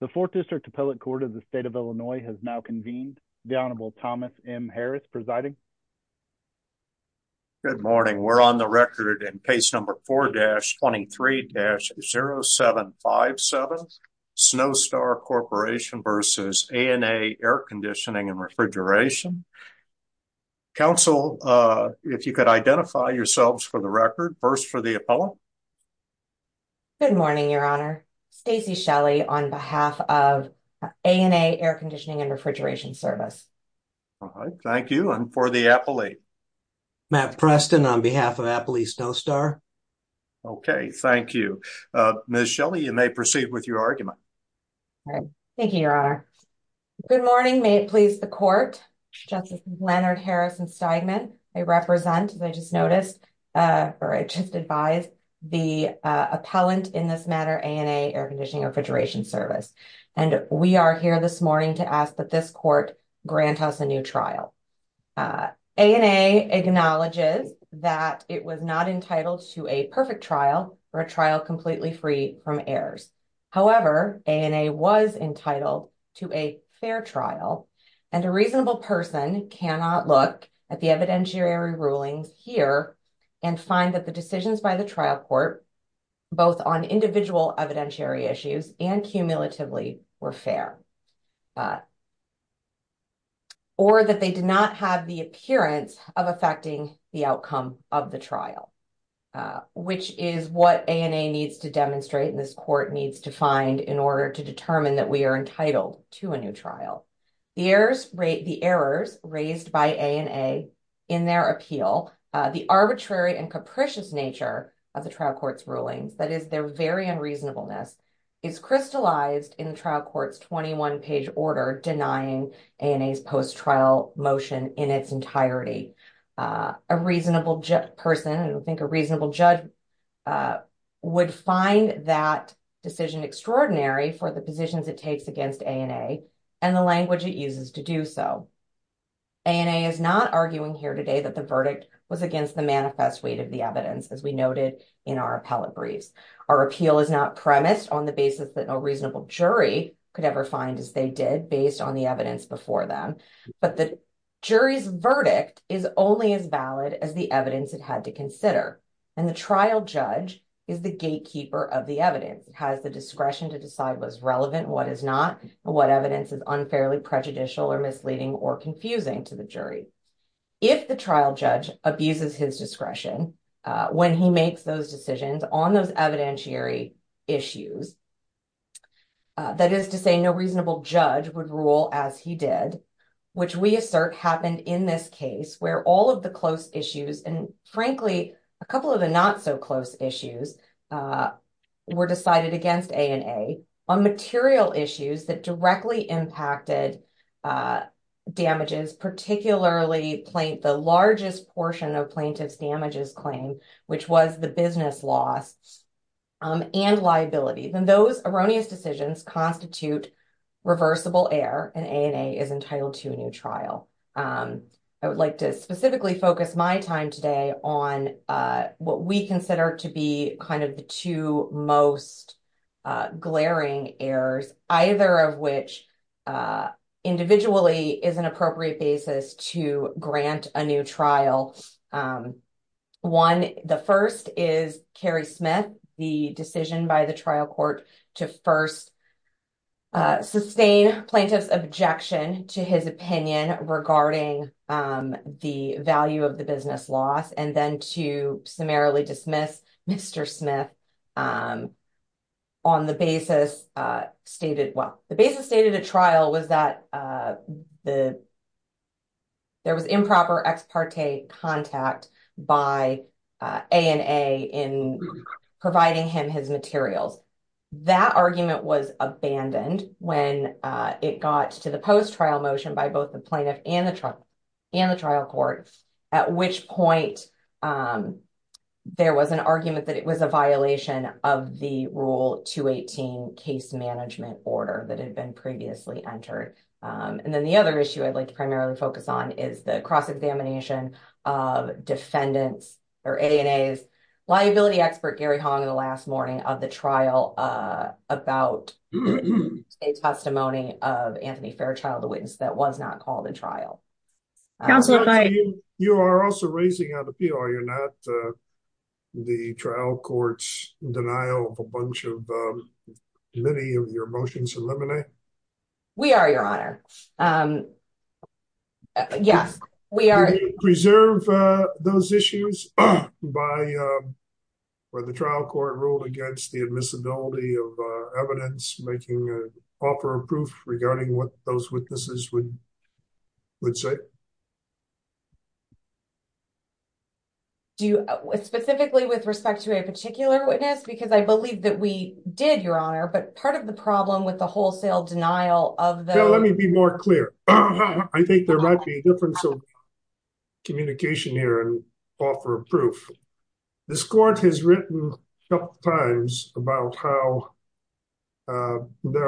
The 4th District Appellate Court of the State of Illinois has now convened. The Honorable Thomas M. Harris presiding. Good morning. We're on the record in case number 4-23-0757, Snowstar Corp. v. A&A Air Conditioning & Refrigeration. Counsel, if you could identify yourselves for the record, first for the appellant. Good morning, Your Honor. Stacy Shelley on behalf of A&A Air Conditioning & Refrigeration Service. Thank you. And for the appellate? Matt Preston on behalf of Appellate Snowstar. Okay, thank you. Ms. Shelley, you may proceed with your argument. Thank you, Your Honor. Good morning. May it please the Court, Justice Leonard Harrison-Steigman. I represent, as I just noticed, or I just advise, the appellant in this matter, A&A Air Conditioning & Refrigeration Service. And we are here this morning to ask that this Court grant us a new trial. A&A acknowledges that it was not entitled to a perfect trial or a trial completely free from errors. However, A&A was entitled to a fair trial. And a reasonable person cannot look at the evidentiary rulings here and find that the decisions by the trial court, both on individual evidentiary issues and cumulatively, were fair. Or that they did not have the appearance of affecting the outcome of the trial, which is what A&A needs to demonstrate and this Court needs to find in order to determine that we are entitled to a new trial. The errors raised by A&A in their appeal, the arbitrary and capricious nature of the trial court's rulings, that is, their very unreasonableness, is crystallized in the trial court's 21-page order denying A&A's post-trial motion in its entirety. A reasonable person, I think a reasonable judge, would find that decision extraordinary for the positions it takes against A&A and the language it uses to do so. A&A is not arguing here today that the verdict was against the manifest weight of the evidence, as we noted in our appellate briefs. Our appeal is not premised on the basis that no reasonable jury could ever find as they did based on the evidence before them. But the jury's verdict is only as valid as the evidence it had to consider. And the trial judge is the gatekeeper of the evidence, has the discretion to decide what's relevant, what is not, and what evidence is unfairly prejudicial or misleading or confusing to the jury. If the trial judge abuses his discretion when he makes those decisions on those evidentiary issues, that is to say, no reasonable judge would rule as he did, which we assert happened in this case, where all of the close issues and, frankly, a couple of the not-so-close issues were decided against A&A on material issues that directly impacted damages, particularly the largest portion of plaintiff's damages claim, which was the business loss and liability. Then those erroneous decisions constitute reversible error, and A&A is entitled to a new trial. I would like to specifically focus my time today on what we consider to be kind of the two most glaring errors, either of which individually is an appropriate basis to grant a new trial. One, the first is Kerry Smith, the decision by the trial court to first sustain plaintiff's objection to his opinion regarding the value of the business loss and then to summarily dismiss Mr. Smith on the basis stated, well, the basis stated at trial was that there was improper ex parte contact by A&A in providing him his materials. That argument was abandoned when it got to the post-trial motion by both the plaintiff and the trial court, at which point there was an argument that it was a violation of the Rule 218 case management order that had been previously entered. And then the other issue I'd like to primarily focus on is the cross-examination of defendants or A&A's liability expert, Gary Hong, in the last morning of the trial about a testimony of Anthony Fairchild, the witness, that was not called a trial. You are also raising an appeal, are you not? The trial court's denial of a bunch of many of your motions eliminate? We are, Your Honor. Yes, we are. Do you preserve those issues where the trial court ruled against the admissibility of evidence, making an offer of proof regarding what those witnesses would say? Specifically with respect to a particular witness, because I believe that we did, Your Honor, but part of the problem with the wholesale denial of the… There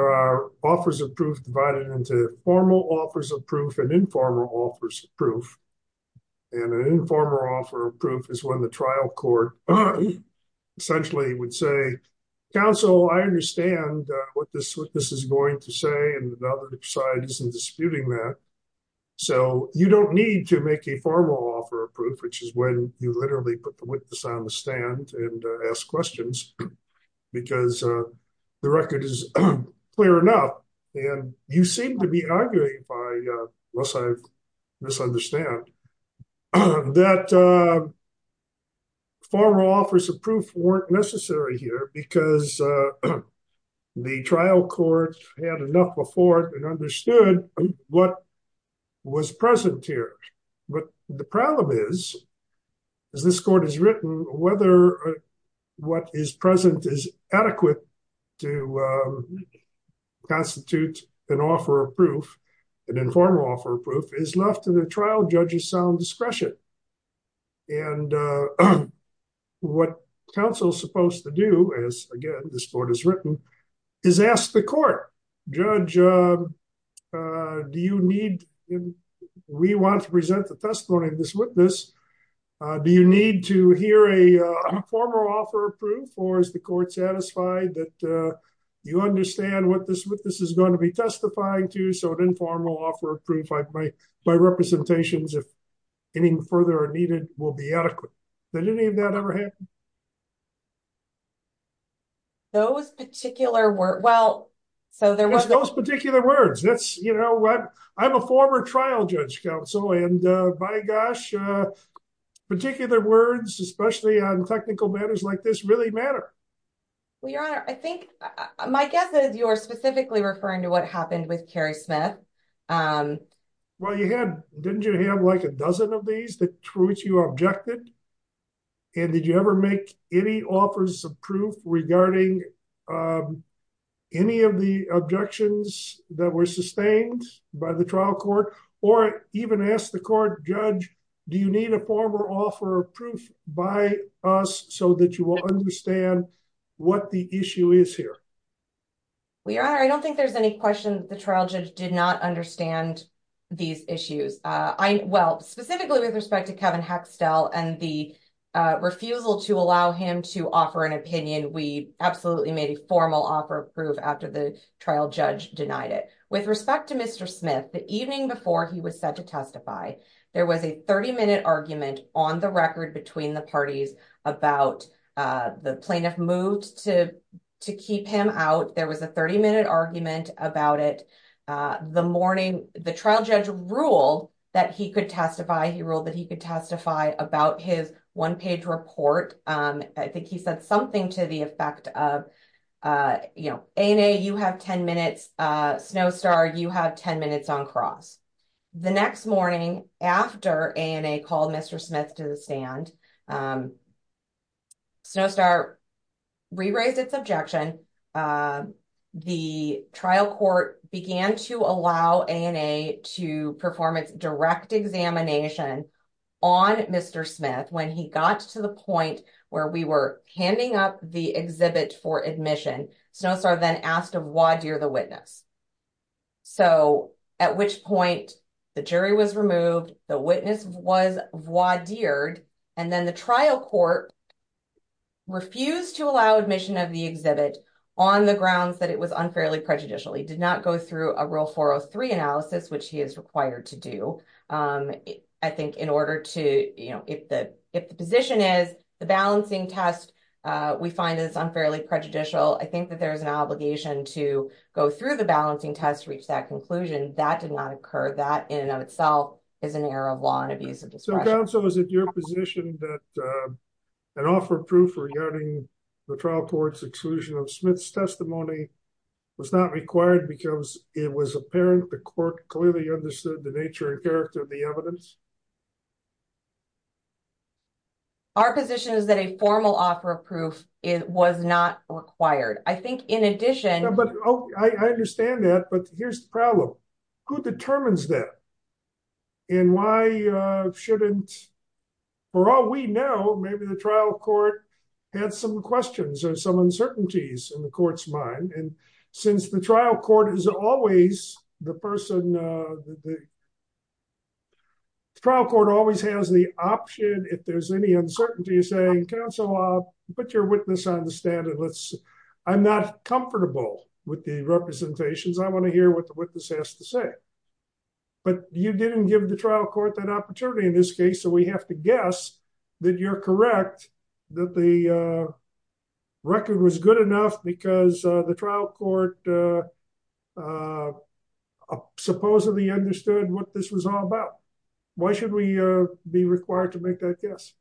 are offers of proof divided into formal offers of proof and informal offers of proof, and an informal offer of proof is when the trial court essentially would say, counsel, I understand what this witness is going to say, and the other side isn't disputing that. So you don't need to make a formal offer of proof, which is when you literally put the witness on the stand and ask questions, because the record is clear enough, and you seem to be arguing by, unless I misunderstand, that formal offers of proof weren't necessary here because the trial court had enough before and understood what was present here. But the problem is, as this court has written, whether what is present is adequate to constitute an offer of proof, an informal offer of proof, is left to the trial judge's sound discretion. And what counsel is supposed to do is, again, this court has written, is ask the court, Judge, do you need… We want to present the testimony of this witness. Do you need to hear a formal offer of proof, or is the court satisfied that you understand what this witness is going to be testifying to? So an informal offer of proof by representations, if any further are needed, will be adequate. Did any of that ever happen? Those particular words, well, so there was… Those particular words, that's, you know, I'm a former trial judge counsel, and by gosh, particular words, especially on technical matters like this, really matter. Well, Your Honor, I think, my guess is you're specifically referring to what happened with Kerry Smith. Well, you had… Didn't you have like a dozen of these through which you objected? And did you ever make any offers of proof regarding any of the objections that were sustained by the trial court? Or even ask the court, Judge, do you need a formal offer of proof by us so that you will understand what the issue is here? Well, Your Honor, I don't think there's any question that the trial judge did not understand these issues. Well, specifically with respect to Kevin Hexdell and the refusal to allow him to offer an opinion, we absolutely made a formal offer of proof after the trial judge denied it. With respect to Mr. Smith, the evening before he was set to testify, there was a 30-minute argument on the record between the parties about the plaintiff moved to keep him. There was a 30-minute argument about it. The morning the trial judge ruled that he could testify, he ruled that he could testify about his one-page report. I think he said something to the effect of, you know, ANA, you have 10 minutes. Snowstar, you have 10 minutes on cross. The next morning after ANA called Mr. Smith to the stand, Snowstar re-raised its objection. The trial court began to allow ANA to perform its direct examination on Mr. Smith when he got to the point where we were handing up the exhibit for admission. Snowstar then asked to voir dire the witness. So, at which point the jury was removed, the witness was voir dired, and then the trial court refused to allow admission of the exhibit on the grounds that it was unfairly prejudicial. He did not go through a Rule 403 analysis, which he is required to do. I think in order to, you know, if the position is the balancing test we find is unfairly prejudicial, I think that there is an obligation to go through the balancing test to reach that conclusion. That did not occur. That in and of itself is an error of law and abuse of discretion. Counsel, is it your position that an offer of proof regarding the trial court's exclusion of Smith's testimony was not required because it was apparent the court clearly understood the nature and character of the evidence? Our position is that a formal offer of proof was not required. I think in addition... I understand that, but here's the problem. Who determines that? And why shouldn't, for all we know, maybe the trial court had some questions or some uncertainties in the court's mind. And since the trial court is always the person... The trial court always has the option, if there's any uncertainty, of saying, Counsel, put your witness on the stand and let's... I'm not comfortable with the representations. I want to hear what the witness has to say. But you didn't give the trial court that opportunity in this case, so we have to guess that you're correct, that the record was good enough because the trial court supposedly understood what this was all about. Why should we be required to make that guess?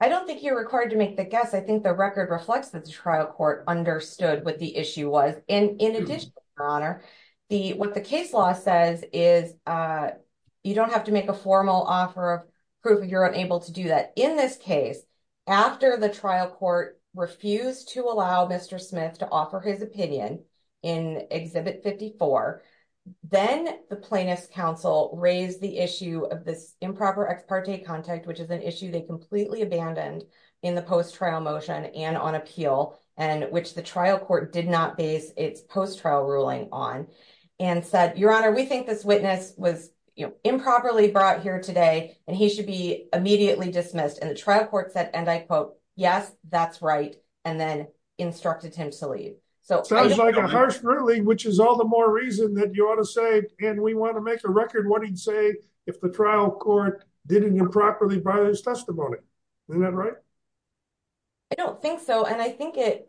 I don't think you're required to make the guess. I think the record reflects that the trial court understood what the issue was. In addition, Your Honor, what the case law says is you don't have to make a formal offer of proof if you're unable to do that. In this case, after the trial court refused to allow Mr. Smith to offer his opinion in Exhibit 54, then the plaintiff's counsel raised the issue of this improper ex parte contact, which is an issue they completely abandoned in the post-trial motion and on appeal, which the trial court did not base its post-trial ruling on, and said, Your Honor, we think this witness was improperly brought here today, and he should be immediately dismissed. And the trial court said, and I quote, yes, that's right, and then instructed him to leave. Sounds like a harsh ruling, which is all the more reason that you ought to say, and we want to make a record, what he'd say if the trial court didn't improperly buy this testimony. Isn't that right? I don't think so, and I think it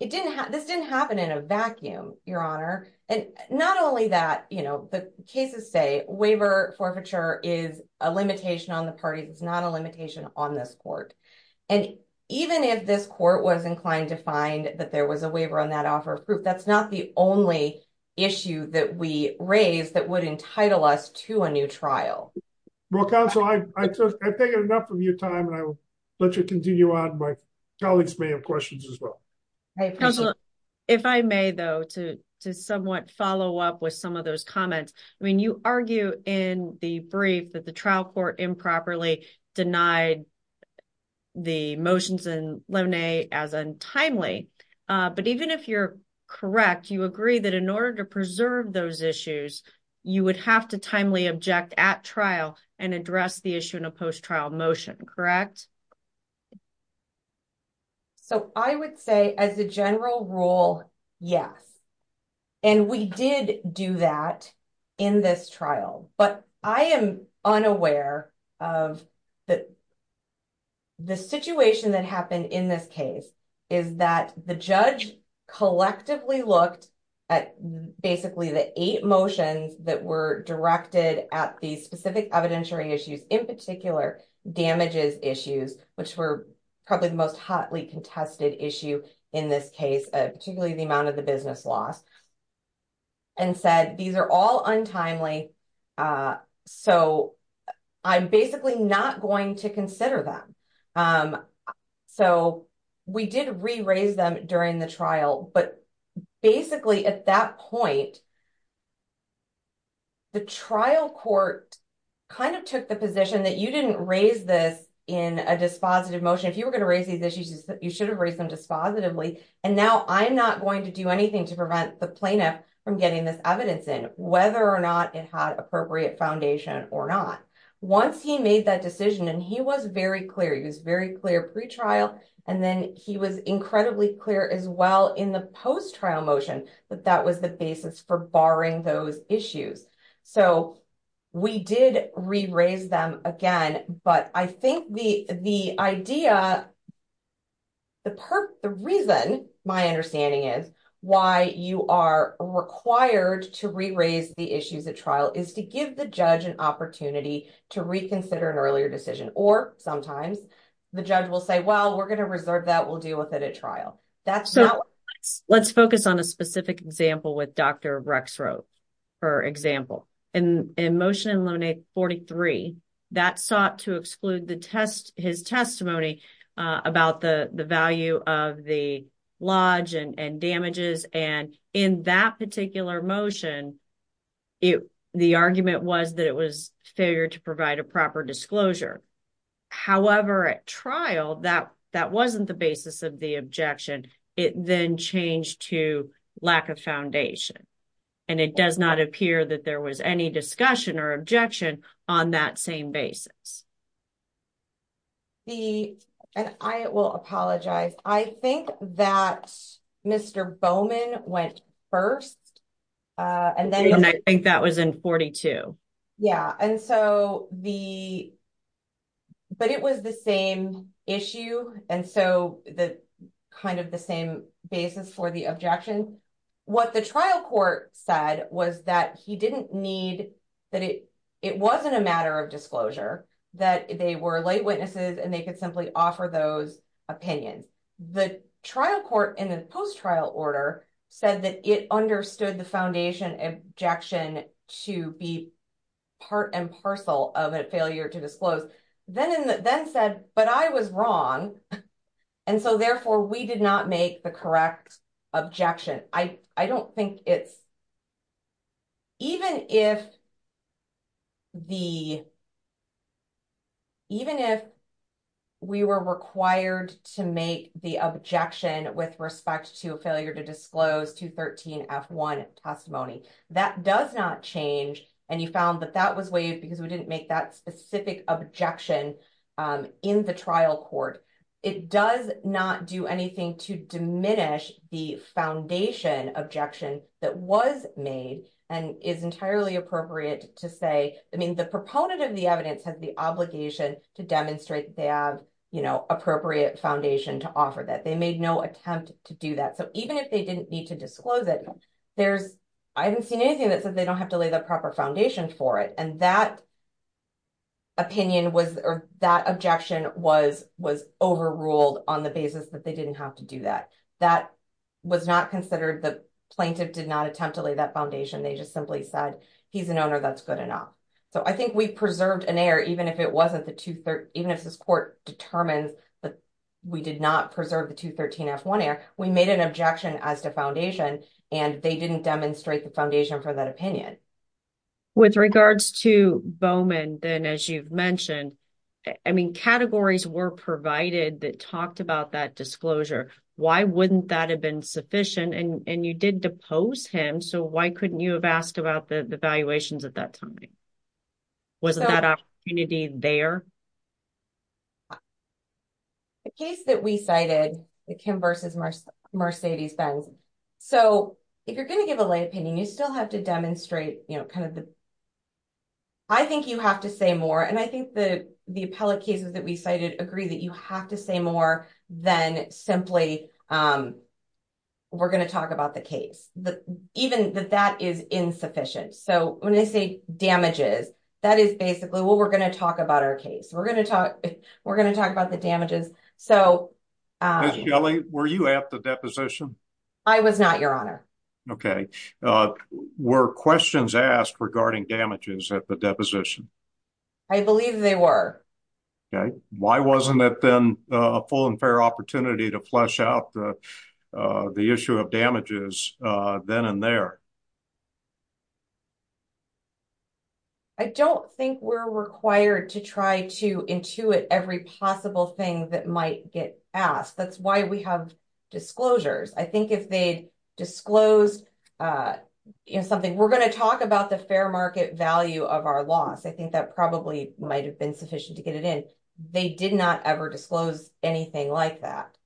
didn't, this didn't happen in a vacuum, Your Honor. And not only that, you know, the cases say waiver forfeiture is a limitation on the parties. It's not a limitation on this court. And even if this court was inclined to find that there was a waiver on that offer of proof, that's not the only issue that we raised that would entitle us to a new trial. Well, counsel, I've taken enough of your time, and I will let you continue on. My colleagues may have questions as well. If I may, though, to somewhat follow up with some of those comments, I mean, you argue in the brief that the trial court improperly denied the motions in Lone as untimely. But even if you're correct, you agree that in order to preserve those issues, you would have to timely object at trial and address the issue in a post trial motion. Correct. So, I would say as a general rule, yes. And we did do that in this trial, but I am unaware of the situation that happened in this case. The judge collectively looked at basically the eight motions that were directed at the specific evidentiary issues, in particular, damages issues, which were probably the most hotly contested issue in this case, particularly the amount of the business loss. And said, these are all untimely, so I'm basically not going to consider them. So, we did re-raise them during the trial, but basically at that point, the trial court kind of took the position that you didn't raise this in a dispositive motion. If you were going to raise these issues, you should have raised them dispositively, and now I'm not going to do anything to prevent the plaintiff from getting this evidence in, whether or not it had appropriate foundation or not. Once he made that decision, and he was very clear, he was very clear pre-trial, and then he was incredibly clear as well in the post trial motion, that that was the basis for barring those issues. So, we did re-raise them again, but I think the idea, the reason, my understanding is, why you are required to re-raise the issues at trial is to give the judge an opportunity to reconsider an earlier decision, or sometimes the judge will say, well, we're going to reserve that, we'll deal with it at trial. So, let's focus on a specific example with Dr. Rexroth, for example. In Motion and Limit 43, that sought to exclude his testimony about the value of the lodge and damages, and in that particular motion, the argument was that it was a failure to provide a proper disclosure. However, at trial, that wasn't the basis of the objection. It then changed to lack of foundation, and it does not appear that there was any discussion or objection on that same basis. And I will apologize. I think that Mr. Bowman went first. And I think that was in 42. Yeah, and so the, but it was the same issue, and so kind of the same basis for the objection. What the trial court said was that he didn't need, that it wasn't a matter of disclosure, that they were light witnesses and they could simply offer those opinions. And the trial court, in the post-trial order, said that it understood the foundation objection to be part and parcel of a failure to disclose. Then said, but I was wrong, and so therefore we did not make the correct objection. I don't think it's, even if the, even if we were required to make the objection with respect to a failure to disclose 213 F1 testimony, that does not change, and you found that that was waived because we didn't make that specific objection in the trial court. It does not do anything to diminish the foundation objection that was made and is entirely appropriate to say, I mean, the proponent of the evidence has the obligation to demonstrate they have appropriate foundation to offer that. They made no attempt to do that. So even if they didn't need to disclose it, there's, I haven't seen anything that says they don't have to lay the proper foundation for it. And that opinion was, or that objection was overruled on the basis that they didn't have to do that. That was not considered, the plaintiff did not attempt to lay that foundation. They just simply said, he's an owner that's good enough. So I think we preserved an error, even if it wasn't the, even if this court determined that we did not preserve the 213 F1 error, we made an objection as to foundation, and they didn't demonstrate the foundation for that opinion. With regards to Bowman, then, as you've mentioned, I mean, categories were provided that talked about that disclosure. Why wouldn't that have been sufficient? And you did depose him. So why couldn't you have asked about the valuations at that time? Wasn't that opportunity there? The case that we cited, the Kim versus Mercedes-Benz, so if you're going to give a lay opinion, you still have to demonstrate kind of the, I think you have to say more. And I think the appellate cases that we cited agree that you have to say more than simply, we're going to talk about the case. Even that that is insufficient. So when they say damages, that is basically what we're going to talk about our case. We're going to talk about the damages. Ms. Gelley, were you at the deposition? I was not, Your Honor. Okay. Were questions asked regarding damages at the deposition? I believe they were. Okay. Why wasn't it then a full and fair opportunity to flesh out the issue of damages then and there? I don't think we're required to try to intuit every possible thing that might get asked. That's why we have disclosures. I think if they disclosed something, we're going to talk about the fair market value of our loss. I think that probably might have been sufficient to get it in. They did not ever disclose anything like that.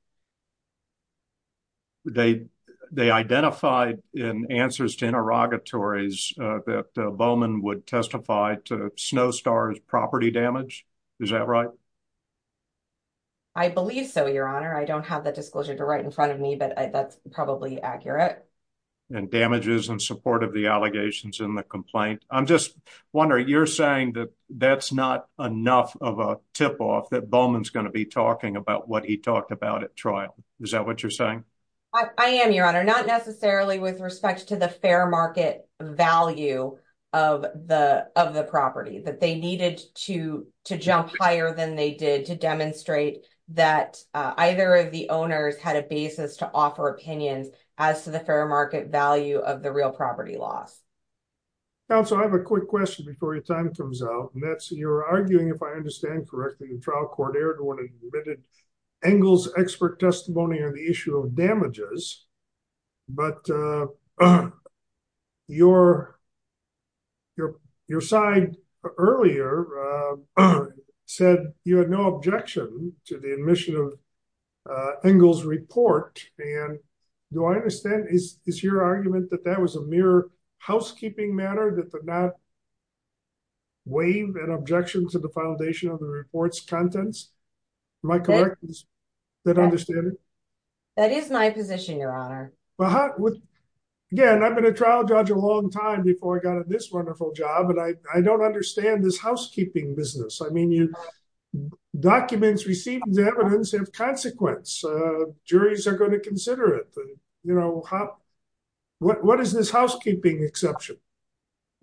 They identified in answers to interrogatories that Bowman would testify to Snowstar's property damage. Is that right? I believe so, Your Honor. I don't have that disclosure right in front of me, but that's probably accurate. And damages in support of the allegations in the complaint. I'm just wondering, you're saying that that's not enough of a tip-off that Bowman's going to be talking about what he talked about at trial. Is that what you're saying? I am, Your Honor. Not necessarily with respect to the fair market value of the property that they needed to jump higher than they did to demonstrate that either of the owners had a basis to offer opinions as to the fair market value of the real property loss. Counsel, I have a quick question before your time comes out. And that's, you're arguing, if I understand correctly, the trial court erred when it admitted Engle's expert testimony on the issue of damages. But your side earlier said you had no objection to the admission of Engle's report. And do I understand, is your argument that that was a mere housekeeping matter that did not waive an objection to the foundation of the report's contents? Am I correct in that understanding? That is my position, Your Honor. Again, I've been a trial judge a long time before I got this wonderful job, and I don't understand this housekeeping business. I mean, documents received as evidence have consequence. Juries are going to consider it. What is this housekeeping exception?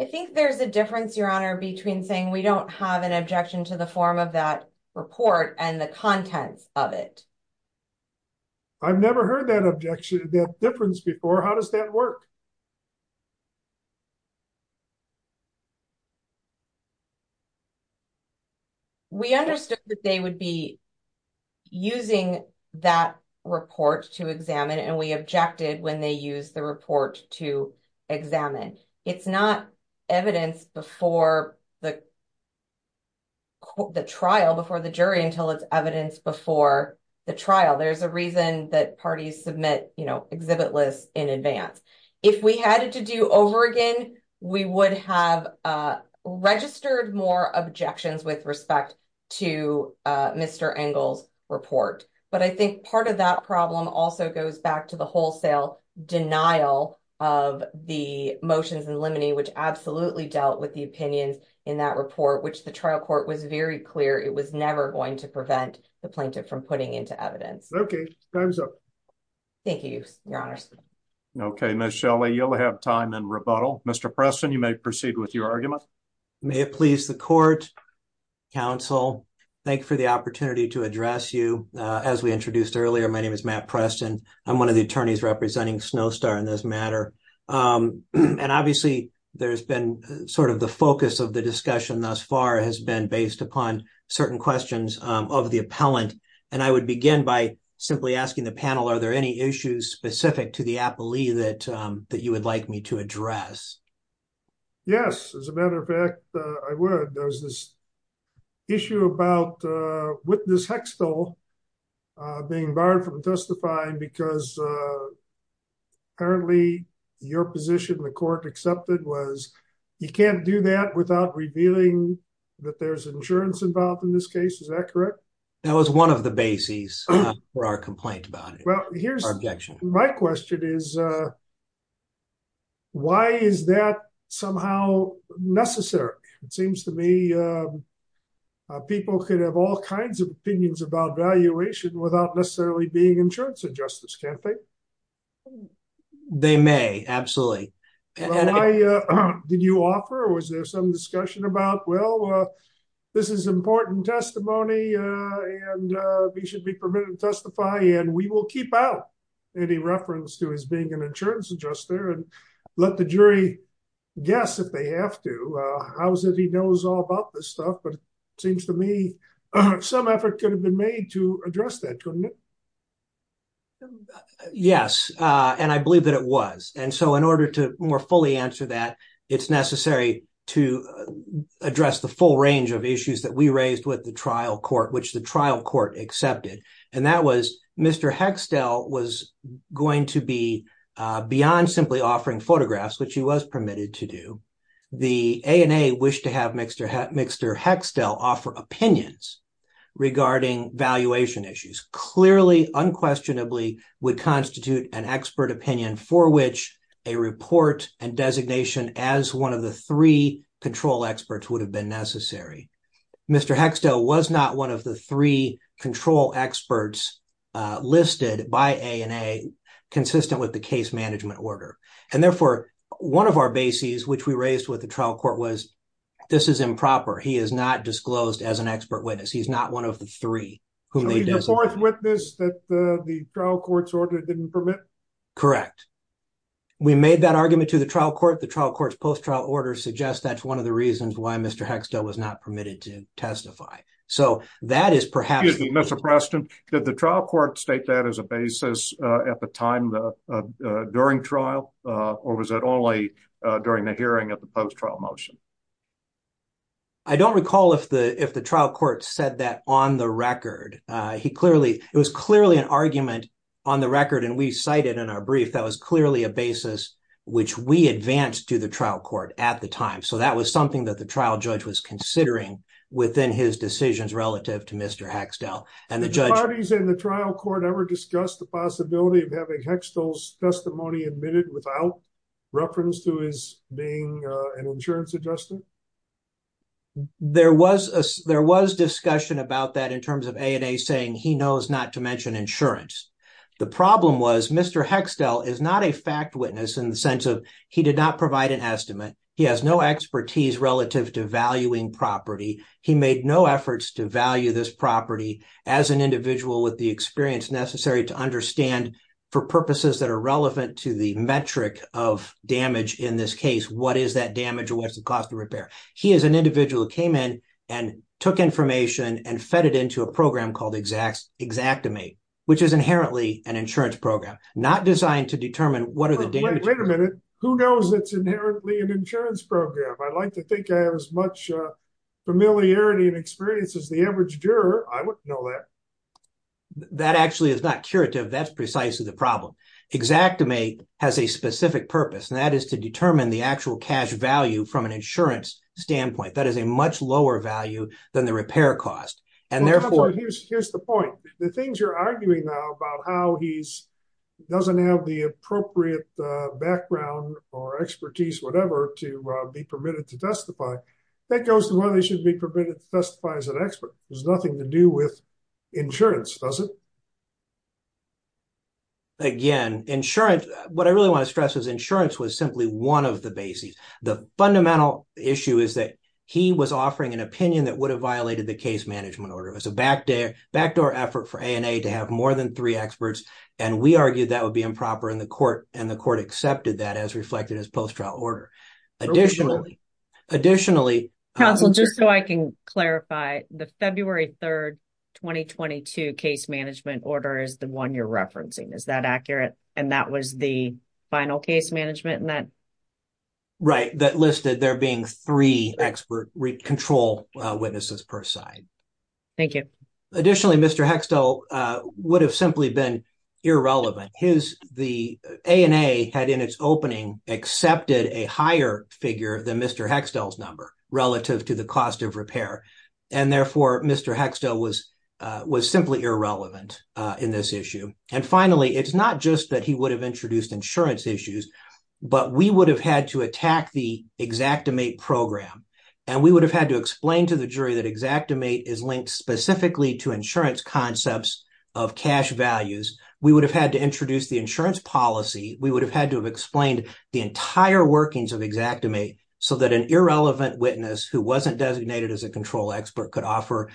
I think there's a difference, Your Honor, between saying we don't have an objection to the form of that report and the contents of it. I've never heard that objection, that difference before. How does that work? We understood that they would be using that report to examine, and we objected when they used the report to examine. It's not evidence before the trial, before the jury, until it's evidence before the trial. There's a reason that parties submit exhibit lists in advance. If we had to do over again, we would have registered more objections with respect to Mr. Engle's report. But I think part of that problem also goes back to the wholesale denial of the motions in limine, which absolutely dealt with the opinions in that report, which the trial court was very clear it was never going to prevent the plaintiff from putting into evidence. Okay, time's up. Thank you, Your Honor. Okay, Ms. Shelley, you'll have time in rebuttal. Mr. Preston, you may proceed with your argument. Well, may it please the court, counsel, thank you for the opportunity to address you. As we introduced earlier, my name is Matt Preston. I'm one of the attorneys representing Snowstar in this matter. And obviously, there's been sort of the focus of the discussion thus far has been based upon certain questions of the appellant. And I would begin by simply asking the panel, are there any issues specific to the appellee that you would like me to address? Yes, as a matter of fact, I would. There's this issue about witness Hextel being barred from testifying because apparently, your position the court accepted was, you can't do that without revealing that there's insurance involved in this case. Is that correct? That was one of the bases for our complaint about it. My question is, why is that somehow necessary? It seems to me, people could have all kinds of opinions about valuation without necessarily being insurance or justice campaign. Did you offer or was there some discussion about, well, this is important testimony, and we should be permitted to testify and we will keep out any reference to his being an insurance adjuster and let the jury guess if they have to. How is it he knows all about this stuff, but it seems to me, some effort could have been made to address that, couldn't it? Yes, and I believe that it was. And so, in order to more fully answer that, it's necessary to address the full range of issues that we raised with the trial court, which the trial court accepted. And that was Mr. Hextel was going to be beyond simply offering photographs, which he was permitted to do. The ANA wished to have Mr. Hextel offer opinions regarding valuation issues. Clearly, unquestionably, would constitute an expert opinion for which a report and designation as one of the three control experts would have been necessary. Mr. Hextel was not one of the three control experts listed by ANA consistent with the case management order. And therefore, one of our bases, which we raised with the trial court was, this is improper. He is not disclosed as an expert witness. He's not one of the three. So he's the fourth witness that the trial court's order didn't permit? Correct. We made that argument to the trial court. The trial court's post-trial order suggests that's one of the reasons why Mr. Hextel was not permitted to testify. So that is perhaps... Excuse me, Mr. Preston, did the trial court state that as a basis at the time, during trial, or was it only during the hearing of the post-trial motion? I don't recall if the trial court said that on the record. It was clearly an argument on the record, and we cited in our brief, that was clearly a basis which we advanced to the trial court at the time. So that was something that the trial judge was considering within his decisions relative to Mr. Hextel. Did the parties in the trial court ever discuss the possibility of having Hextel's testimony admitted without reference to his being an insurance adjustment? There was discussion about that in terms of ANA saying he knows not to mention insurance. The problem was Mr. Hextel is not a fact witness in the sense of he did not provide an estimate. He has no expertise relative to valuing property. He made no efforts to value this property as an individual with the experience necessary to understand, for purposes that are relevant to the metric of damage in this case, what is that damage or what's the cost of repair. He is an individual who came in and took information and fed it into a program called Exactimate, which is inherently an insurance program, not designed to determine what are the damages... Wait a minute. Who knows it's inherently an insurance program? I'd like to think I have as much familiarity and experience as the average juror. I wouldn't know that. That actually is not curative. That's precisely the problem. Exactimate has a specific purpose, and that is to determine the actual cash value from an insurance standpoint. That is a much lower value than the repair cost. And therefore... Since you're arguing now about how he doesn't have the appropriate background or expertise, whatever, to be permitted to testify, that goes to whether they should be permitted to testify as an expert. There's nothing to do with insurance, does it? Again, insurance... What I really want to stress is insurance was simply one of the bases. The fundamental issue is that he was offering an opinion that would have violated the case management order. It was a backdoor effort for ANA to have more than three experts, and we argued that would be improper in the court, and the court accepted that as reflected in his post-trial order. Additionally... Just so I can clarify, the February 3rd, 2022 case management order is the one you're referencing. Is that accurate? And that was the final case management in that? Right. That listed there being three expert control witnesses per side. Thank you. Additionally, Mr. Hextel would have simply been irrelevant. The ANA had in its opening accepted a higher figure than Mr. Hextel's number relative to the cost of repair, and therefore Mr. Hextel was simply irrelevant in this issue. And finally, it's not just that he would have introduced insurance issues, but we would have had to attack the Xactimate program, and we would have had to explain to the jury that Xactimate is linked specifically to insurance concepts of cash values. We would have had to introduce the insurance policy. We would have had to have explained the entire workings of Xactimate so that an irrelevant witness who wasn't designated as a control expert could offer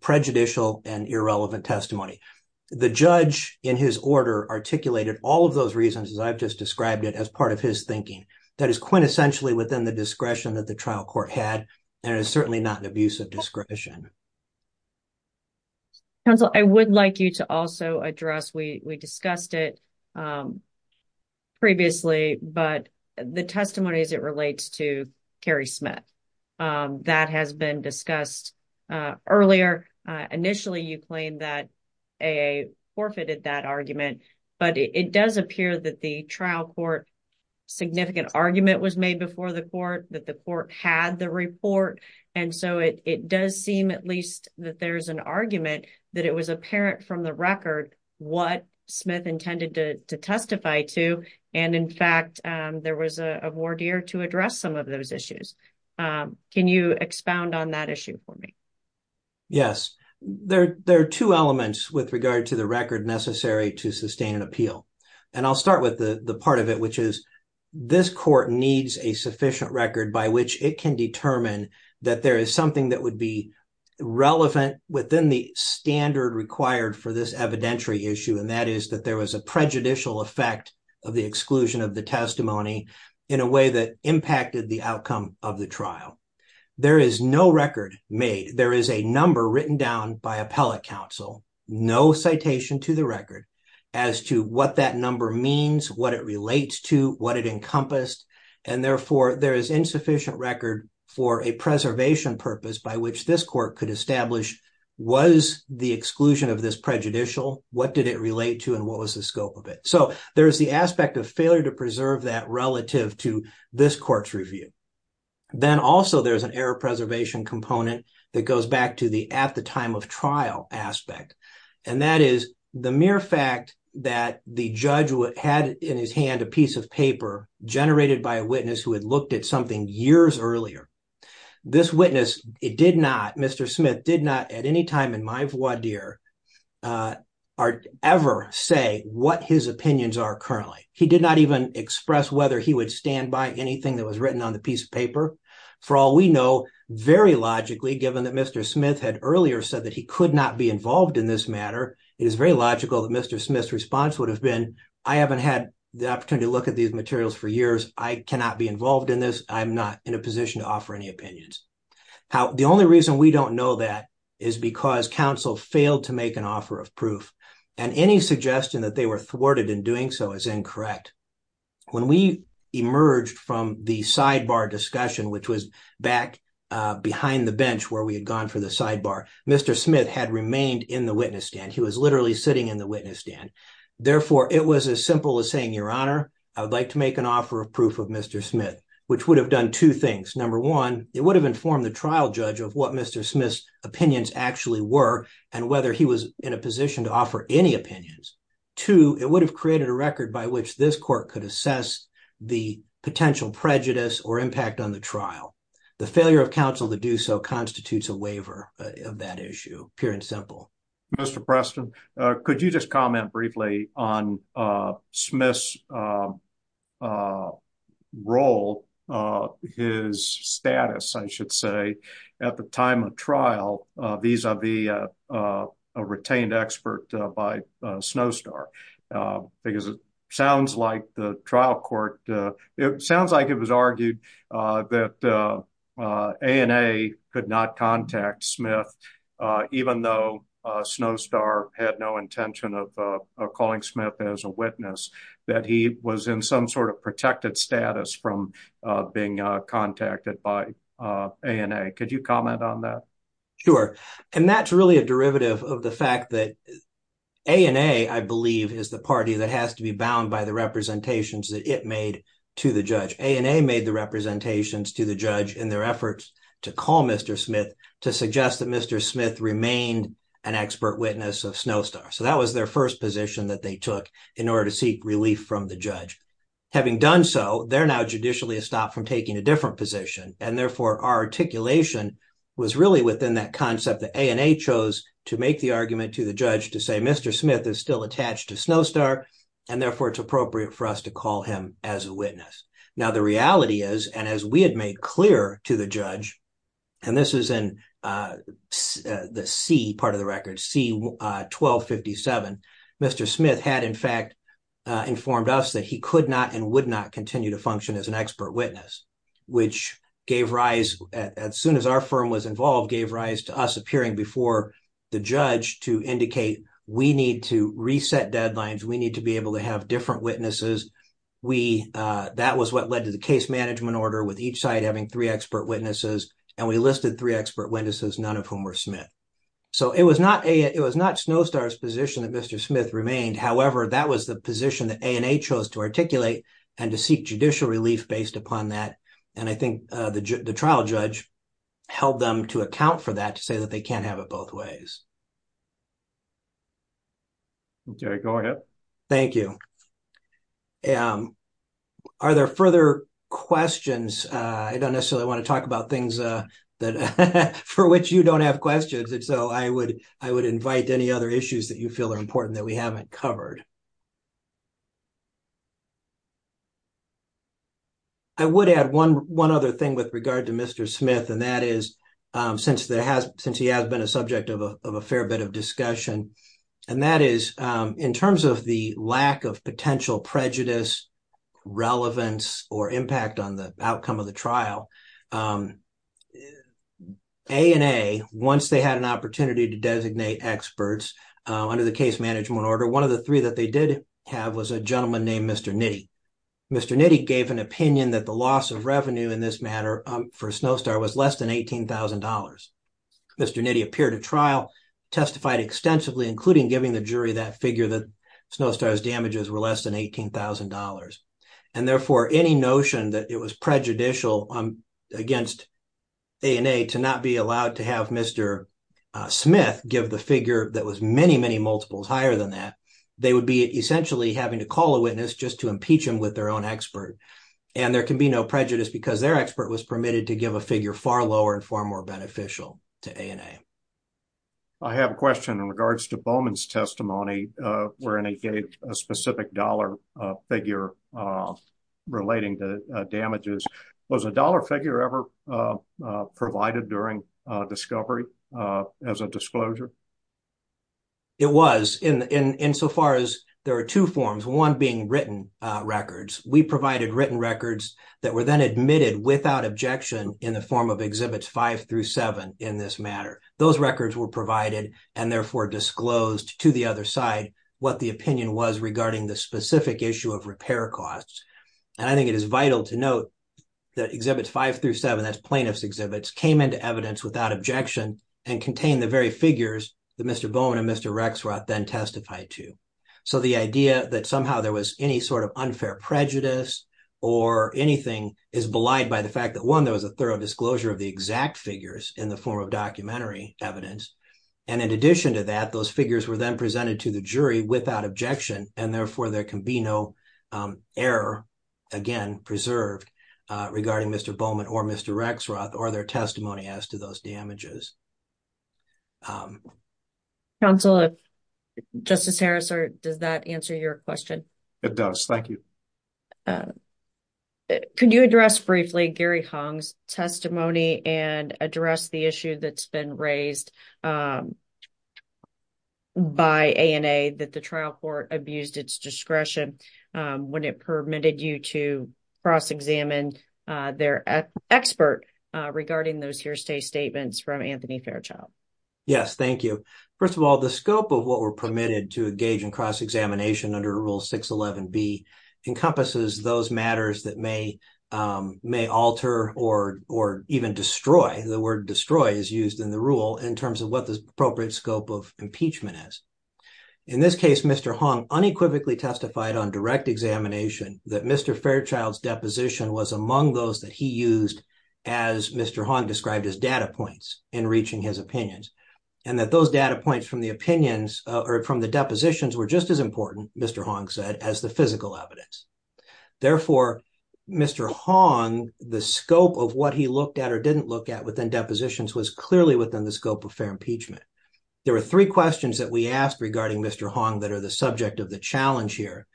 prejudicial and irrelevant testimony. The judge in his order articulated all of those reasons, as I've just described it, as part of his thinking. That is quintessentially within the discretion that the trial court had, and it is certainly not an abuse of discretion. Counsel, I would like you to also address, we discussed it previously, but the testimony as it relates to Carrie Smith. That has been discussed earlier. Initially, you claimed that A.A. forfeited that argument, but it does appear that the trial court significant argument was made before the court, that the court had the report. And so it does seem at least that there's an argument that it was apparent from the record what Smith intended to testify to, and in fact, there was a voir dire to address some of those issues. Can you expound on that issue for me? Yes, there are two elements with regard to the record necessary to sustain an appeal, and I'll start with the part of it, which is this court needs a sufficient record by which it can determine that there is something that would be relevant within the standard required for this evidentiary issue, and that is that there was a prejudicial effect of the exclusion of the testimony in a way that impacted the outcome of the trial. There is no record made. There is a number written down by appellate counsel, no citation to the record as to what that number means, what it relates to, what it encompassed, and therefore, there is insufficient record for a preservation purpose by which this court could establish was the exclusion of this prejudicial, what did it relate to, and what was the scope of it. So there's the aspect of failure to preserve that relative to this court's review. Then also there's an error preservation component that goes back to the at the time of trial aspect, and that is the mere fact that the judge had in his hand a piece of paper generated by a witness who had looked at something years earlier. This witness, Mr. Smith, did not at any time in my voir dire ever say what his opinions are currently. He did not even express whether he would stand by anything that was written on the piece of paper. For all we know, very logically, given that Mr. Smith had earlier said that he could not be involved in this matter, it is very logical that Mr. Smith's response would have been, I haven't had the opportunity to look at these materials for years. I cannot be involved in this. I'm not in a position to offer any opinions. The only reason we don't know that is because counsel failed to make an offer of proof, and any suggestion that they were thwarted in doing so is incorrect. When we emerged from the sidebar discussion, which was back behind the bench where we had gone for the sidebar, Mr. Smith had remained in the witness stand. He was literally sitting in the witness stand. Therefore, it was as simple as saying, Your Honor, I would like to make an offer of proof of Mr. Smith, which would have done two things. Number one, it would have informed the trial judge of what Mr. Smith's opinions actually were, and whether he was in a position to offer any opinions. Two, it would have created a record by which this court could assess the potential prejudice or impact on the trial. The failure of counsel to do so constitutes a waiver of that issue, pure and simple. Mr. Preston, could you just comment briefly on Smith's role, his status, I should say, at the time of trial vis-a-vis a retained expert by Snowstar? Because it sounds like the trial court, it sounds like it was argued that ANA could not contact Smith, even though Snowstar had no intention of calling Smith as a witness, that he was in some sort of protected status from being contacted by ANA. Could you comment on that? Sure. And that's really a derivative of the fact that ANA, I believe, is the party that has to be bound by the representations that it made to the judge. ANA made the representations to the judge in their efforts to call Mr. Smith to suggest that Mr. Smith remained an expert witness of Snowstar. So that was their first position that they took in order to seek relief from the judge. Having done so, they're now judicially stopped from taking a different position, and therefore our articulation was really within that concept that ANA chose to make the argument to the judge to say Mr. Smith is still attached to Snowstar, and therefore it's appropriate for us to call him as a witness. Now, the reality is, and as we had made clear to the judge, and this is in the C part of the record, C 1257, Mr. Smith had in fact informed us that he could not and would not continue to function as an expert witness, which gave rise, as soon as our firm was involved, gave rise to us appearing before the judge to indicate we need to reset deadlines, we need to be able to have different witnesses. That was what led to the case management order with each side having three expert witnesses, and we listed three expert witnesses, none of whom were Smith. So it was not Snowstar's position that Mr. Smith remained. However, that was the position that ANA chose to articulate and to seek judicial relief based upon that, and I think the trial judge held them to account for that to say that they can't have it both ways. Okay, go ahead. Thank you. Are there further questions? I don't necessarily want to talk about things that for which you don't have questions. And so I would, I would invite any other issues that you feel are important that we haven't covered. I would add one other thing with regard to Mr. Smith, and that is, since there has, since he has been a subject of a fair bit of discussion, and that is, in terms of the lack of potential prejudice, relevance, or impact on the outcome of the trial, ANA, once they had an opportunity to designate experts under the case management order, one of the three that they did have was a gentleman named Mr. Nitti. Mr. Nitti gave an opinion that the loss of revenue in this matter for Snowstar was less than $18,000. Mr. Nitti appeared at trial, testified extensively, including giving the jury that figure that Snowstar's damages were less than $18,000. And therefore, any notion that it was prejudicial against ANA to not be allowed to have Mr. Smith give the figure that was many, many multiples higher than that, they would be essentially having to call a witness just to impeach him with their own expert. And there can be no prejudice because their expert was permitted to give a figure far lower and far more beneficial to ANA. I have a question in regards to Bowman's testimony, wherein he gave a specific dollar figure relating to damages. Was a dollar figure ever provided during discovery as a disclosure? It was in so far as there are two forms, one being written records. We provided written records that were then admitted without objection in the form of Exhibits 5 through 7 in this matter. Those records were provided and therefore disclosed to the other side what the opinion was regarding the specific issue of repair costs. And I think it is vital to note that Exhibits 5 through 7, that's plaintiff's exhibits, came into evidence without objection and contained the very figures that Mr. Bowman and Mr. Rexroth then testified to. So the idea that somehow there was any sort of unfair prejudice or anything is belied by the fact that one, there was a thorough disclosure of the exact figures in the form of documentary evidence. And in addition to that, those figures were then presented to the jury without objection and therefore there can be no error, again, preserved regarding Mr. Bowman or Mr. Rexroth or their testimony as to those damages. Counselor, Justice Harris, does that answer your question? It does. Thank you. Can you address briefly Gary Hong's testimony and address the issue that's been raised by ANA that the trial court abused its discretion when it permitted you to cross-examine their expert regarding those hearsay statements from Anthony Fairchild? Yes, thank you. First of all, the scope of what were permitted to engage in cross-examination under Rule 611B encompasses those matters that may alter or even destroy, the word destroy is used in the rule, in terms of what the appropriate scope of impeachment is. In this case, Mr. Hong unequivocally testified on direct examination that Mr. Fairchild's deposition was among those that he used as Mr. Hong described as data points in reaching his opinions and that those data points from the opinions or from the depositions were just as important, Mr. Hong said, as the physical evidence. Therefore, Mr. Hong, the scope of what he looked at or didn't look at within depositions was clearly within the scope of fair impeachment. There were three questions that we asked regarding Mr. Hong that are the subject of the challenge here.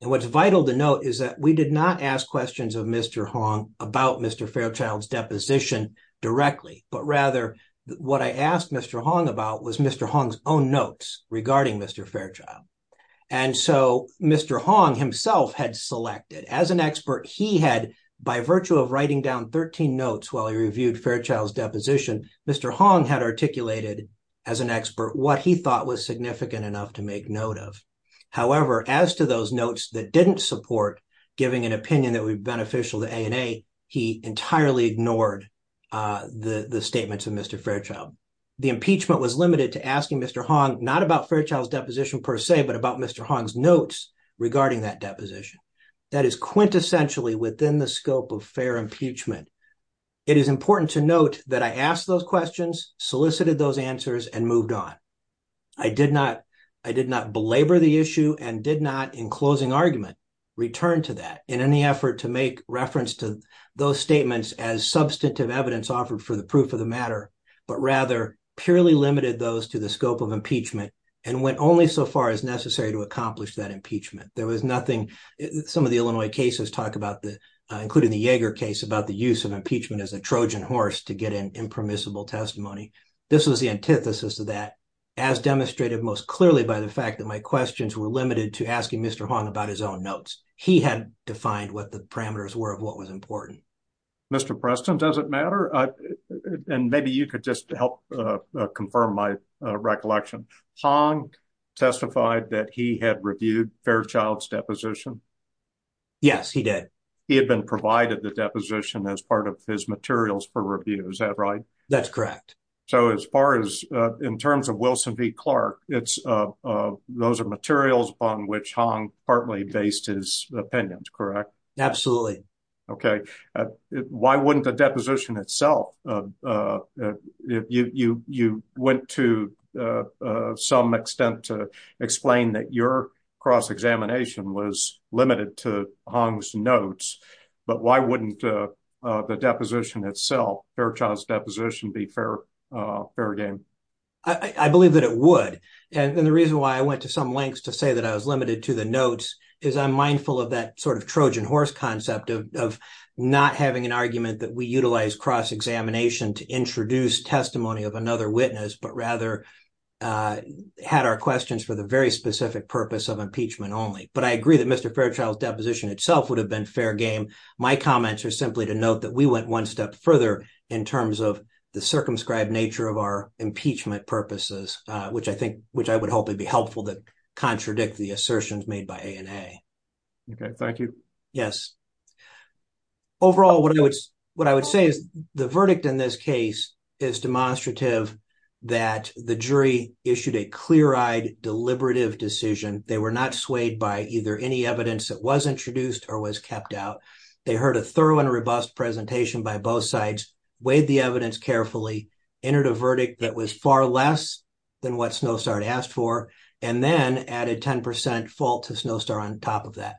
And what's vital to note is that we did not ask questions of Mr. Hong about Mr. Fairchild's deposition directly, but rather what I asked Mr. Hong about was Mr. Hong's own notes regarding Mr. Fairchild. And so, Mr. Hong himself had selected as an expert, he had by virtue of writing down 13 notes while he reviewed Fairchild's deposition, Mr. Hong had articulated as an expert what he thought was significant enough to make note of. However, as to those notes that didn't support giving an opinion that would be beneficial to ANA, he entirely ignored the statements of Mr. Fairchild. The impeachment was limited to asking Mr. Hong not about Fairchild's deposition per se, but about Mr. Hong's notes regarding that deposition. That is quintessentially within the scope of fair impeachment. It is important to note that I asked those questions, solicited those answers, and moved on. I did not belabor the issue and did not, in closing argument, return to that in any effort to make reference to those statements as substantive evidence offered for the proof of the matter, but rather purely limited those to the scope of impeachment and went only so far as necessary to accomplish that impeachment. Some of the Illinois cases talk about, including the Yeager case, about the use of impeachment as a Trojan horse to get an impermissible testimony. This was the antithesis of that, as demonstrated most clearly by the fact that my questions were limited to asking Mr. Hong about his own notes. He had defined what the parameters were of what was important. Mr. Preston, does it matter? And maybe you could just help confirm my recollection. Hong testified that he had reviewed Fairchild's deposition? Yes, he did. He had been provided the deposition as part of his materials for review, is that right? That's correct. So as far as, in terms of Wilson v. Clark, those are materials upon which Hong partly based his opinions, correct? Absolutely. Why wouldn't the deposition itself? You went to some extent to explain that your cross-examination was limited to Hong's notes, but why wouldn't the deposition itself, Fairchild's deposition, be fair game? I believe that it would. And the reason why I went to some lengths to say that I was limited to the notes is I'm mindful of that sort of Trojan horse concept of not having an argument that we utilize cross-examination to introduce testimony of another witness, but rather had our questions for the very specific purpose of impeachment only. But I agree that Mr. Fairchild's deposition itself would have been fair game. My comments are simply to note that we went one step further in terms of the circumscribed nature of our impeachment purposes, which I think, which I would hope would be helpful to contradict the assertions made by A&A. Okay, thank you. Yes. Overall, what I would say is the verdict in this case is demonstrative that the jury issued a clear-eyed, deliberative decision. They were not swayed by either any evidence that was introduced or was kept out. They heard a thorough and robust presentation by both sides, weighed the evidence carefully, entered a verdict that was far less than what Snowstar had asked for, and then added 10% fault to Snowstar on top of that.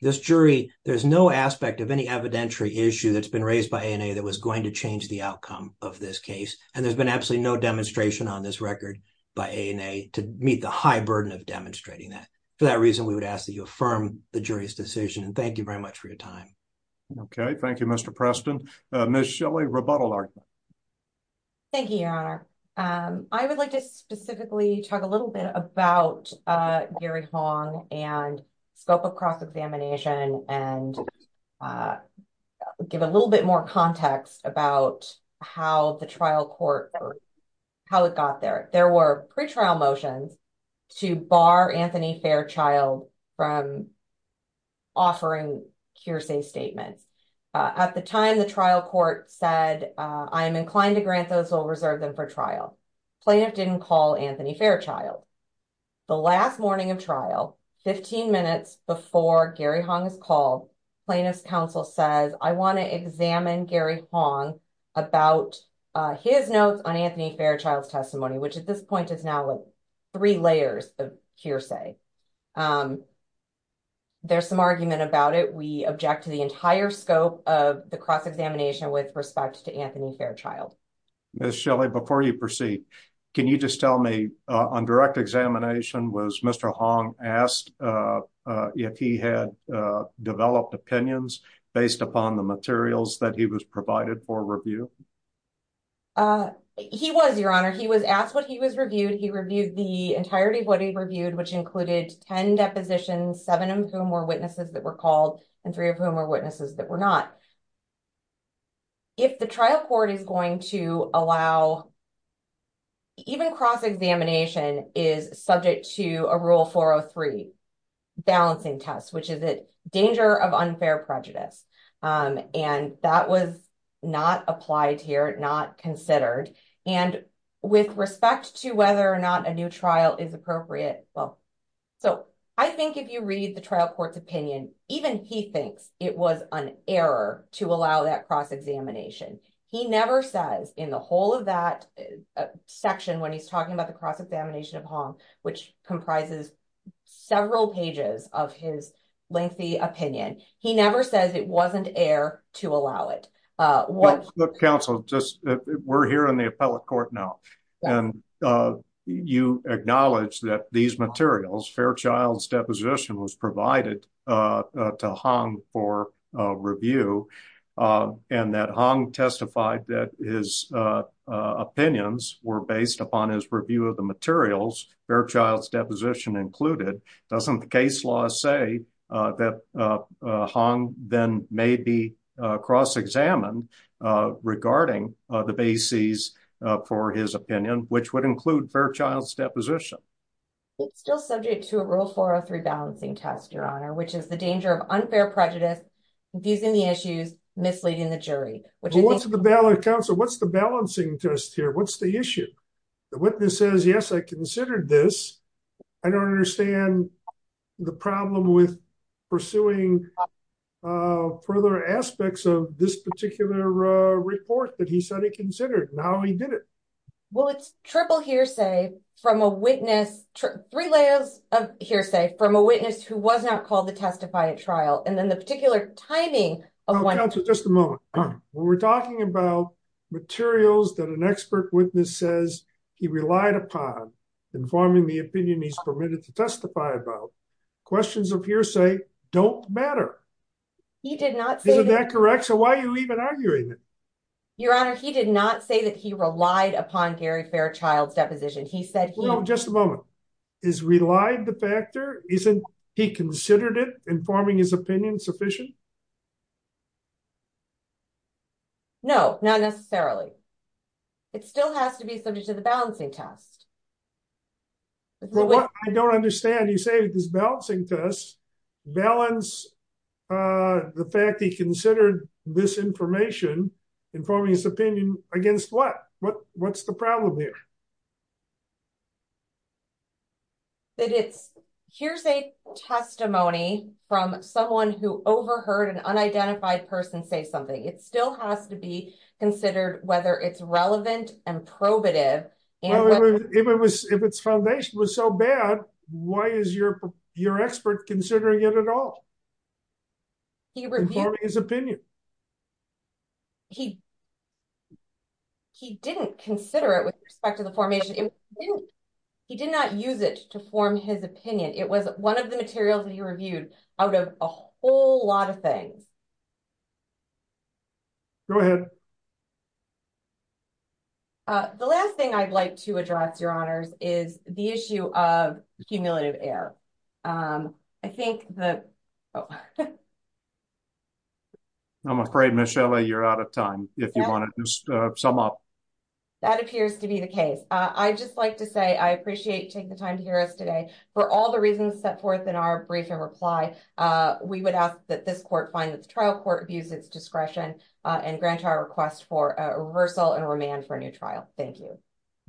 This jury, there's no aspect of any evidentiary issue that's been raised by A&A that was going to change the outcome of this case, and there's been absolutely no demonstration on this record by A&A to meet the high burden of demonstrating that. For that reason, we would ask that you affirm the jury's decision, and thank you very much for your time. Okay, thank you, Mr. Preston. Ms. Shelley, rebuttal argument. Thank you, Your Honor. I would like to specifically talk a little bit about Gary Hong and scope of cross-examination and give a little bit more context about how the trial court or how it got there. There were pretrial motions to bar Anthony Fairchild from offering hearsay statements. At the time, the trial court said, I am inclined to grant those who will reserve them for trial. Plaintiff didn't call Anthony Fairchild. The last morning of trial, 15 minutes before Gary Hong is called, plaintiff's counsel says, I want to examine Gary Hong about his notes on Anthony Fairchild's testimony, which at this point is now three layers of hearsay. There's some argument about it. We object to the entire scope of the cross-examination with respect to Anthony Fairchild. Ms. Shelley, before you proceed, can you just tell me, on direct examination, was Mr. Hong asked if he had developed opinions based upon the materials that he was provided for review? He was, Your Honor. He was asked what he was reviewed. He reviewed the entirety of what he reviewed, which included 10 depositions, seven of whom were witnesses that were called and three of whom were witnesses that were not. If the trial court is going to allow, even cross-examination is subject to a Rule 403 balancing test, which is a danger of unfair prejudice, and that was not applied here, not considered. With respect to whether or not a new trial is appropriate, I think if you read the trial court's opinion, even he thinks it was an error to allow that cross-examination. He never says in the whole of that section when he's talking about the cross-examination of Hong, which comprises several pages of his lengthy opinion, he never says it wasn't error to allow it. Counsel, we're here in the appellate court now, and you acknowledge that these materials, Fairchild's deposition was provided to Hong for review, and that Hong testified that his opinions were based upon his review of the materials, Fairchild's deposition included. Doesn't the case law say that Hong then may be cross-examined regarding the bases for his opinion, which would include Fairchild's deposition? It's still subject to a Rule 403 balancing test, Your Honor, which is the danger of unfair prejudice, confusing the issues, misleading the jury. Counsel, what's the balancing test here? What's the issue? The witness says, yes, I considered this. I don't understand the problem with pursuing further aspects of this particular report that he said he considered, and how he did it. Well, it's triple hearsay from a witness, three layers of hearsay from a witness who was not called to testify at trial, and then the particular timing of when… Counsel, just a moment. When we're talking about materials that an expert witness says he relied upon in forming the opinion he's permitted to testify about, questions of hearsay don't matter. He did not say… Isn't that correct? So why are you even arguing it? Your Honor, he did not say that he relied upon Gary Fairchild's deposition. He said he… Well, just a moment. Is relied the factor? Isn't he considered it in forming his opinion sufficient? No, not necessarily. It still has to be subject to the balancing test. Well, what I don't understand, you say this balancing test balanced the fact he considered misinformation in forming his opinion against what? What's the problem here? Here's a testimony from someone who overheard an unidentified person say something. It still has to be considered whether it's relevant and probative. Well, if its foundation was so bad, why is your expert considering it at all? He reviewed… In forming his opinion. He… He didn't consider it with respect to the formation. He did not use it to form his opinion. It was one of the materials that he reviewed out of a whole lot of things. Go ahead. The last thing I'd like to address, Your Honors, is the issue of cumulative error. I think that… I'm afraid, Ms. Shelley, you're out of time. If you want to just sum up. That appears to be the case. I'd just like to say I appreciate you taking the time to hear us today. For all the reasons set forth in our brief and reply, we would ask that this court find that the trial court views its discretion and grant our request for a reversal and remand for a new trial. Thank you.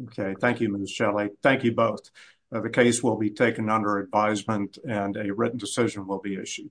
Okay. Thank you, Ms. Shelley. Thank you both. The case will be taken under advisement and a written decision will be issued.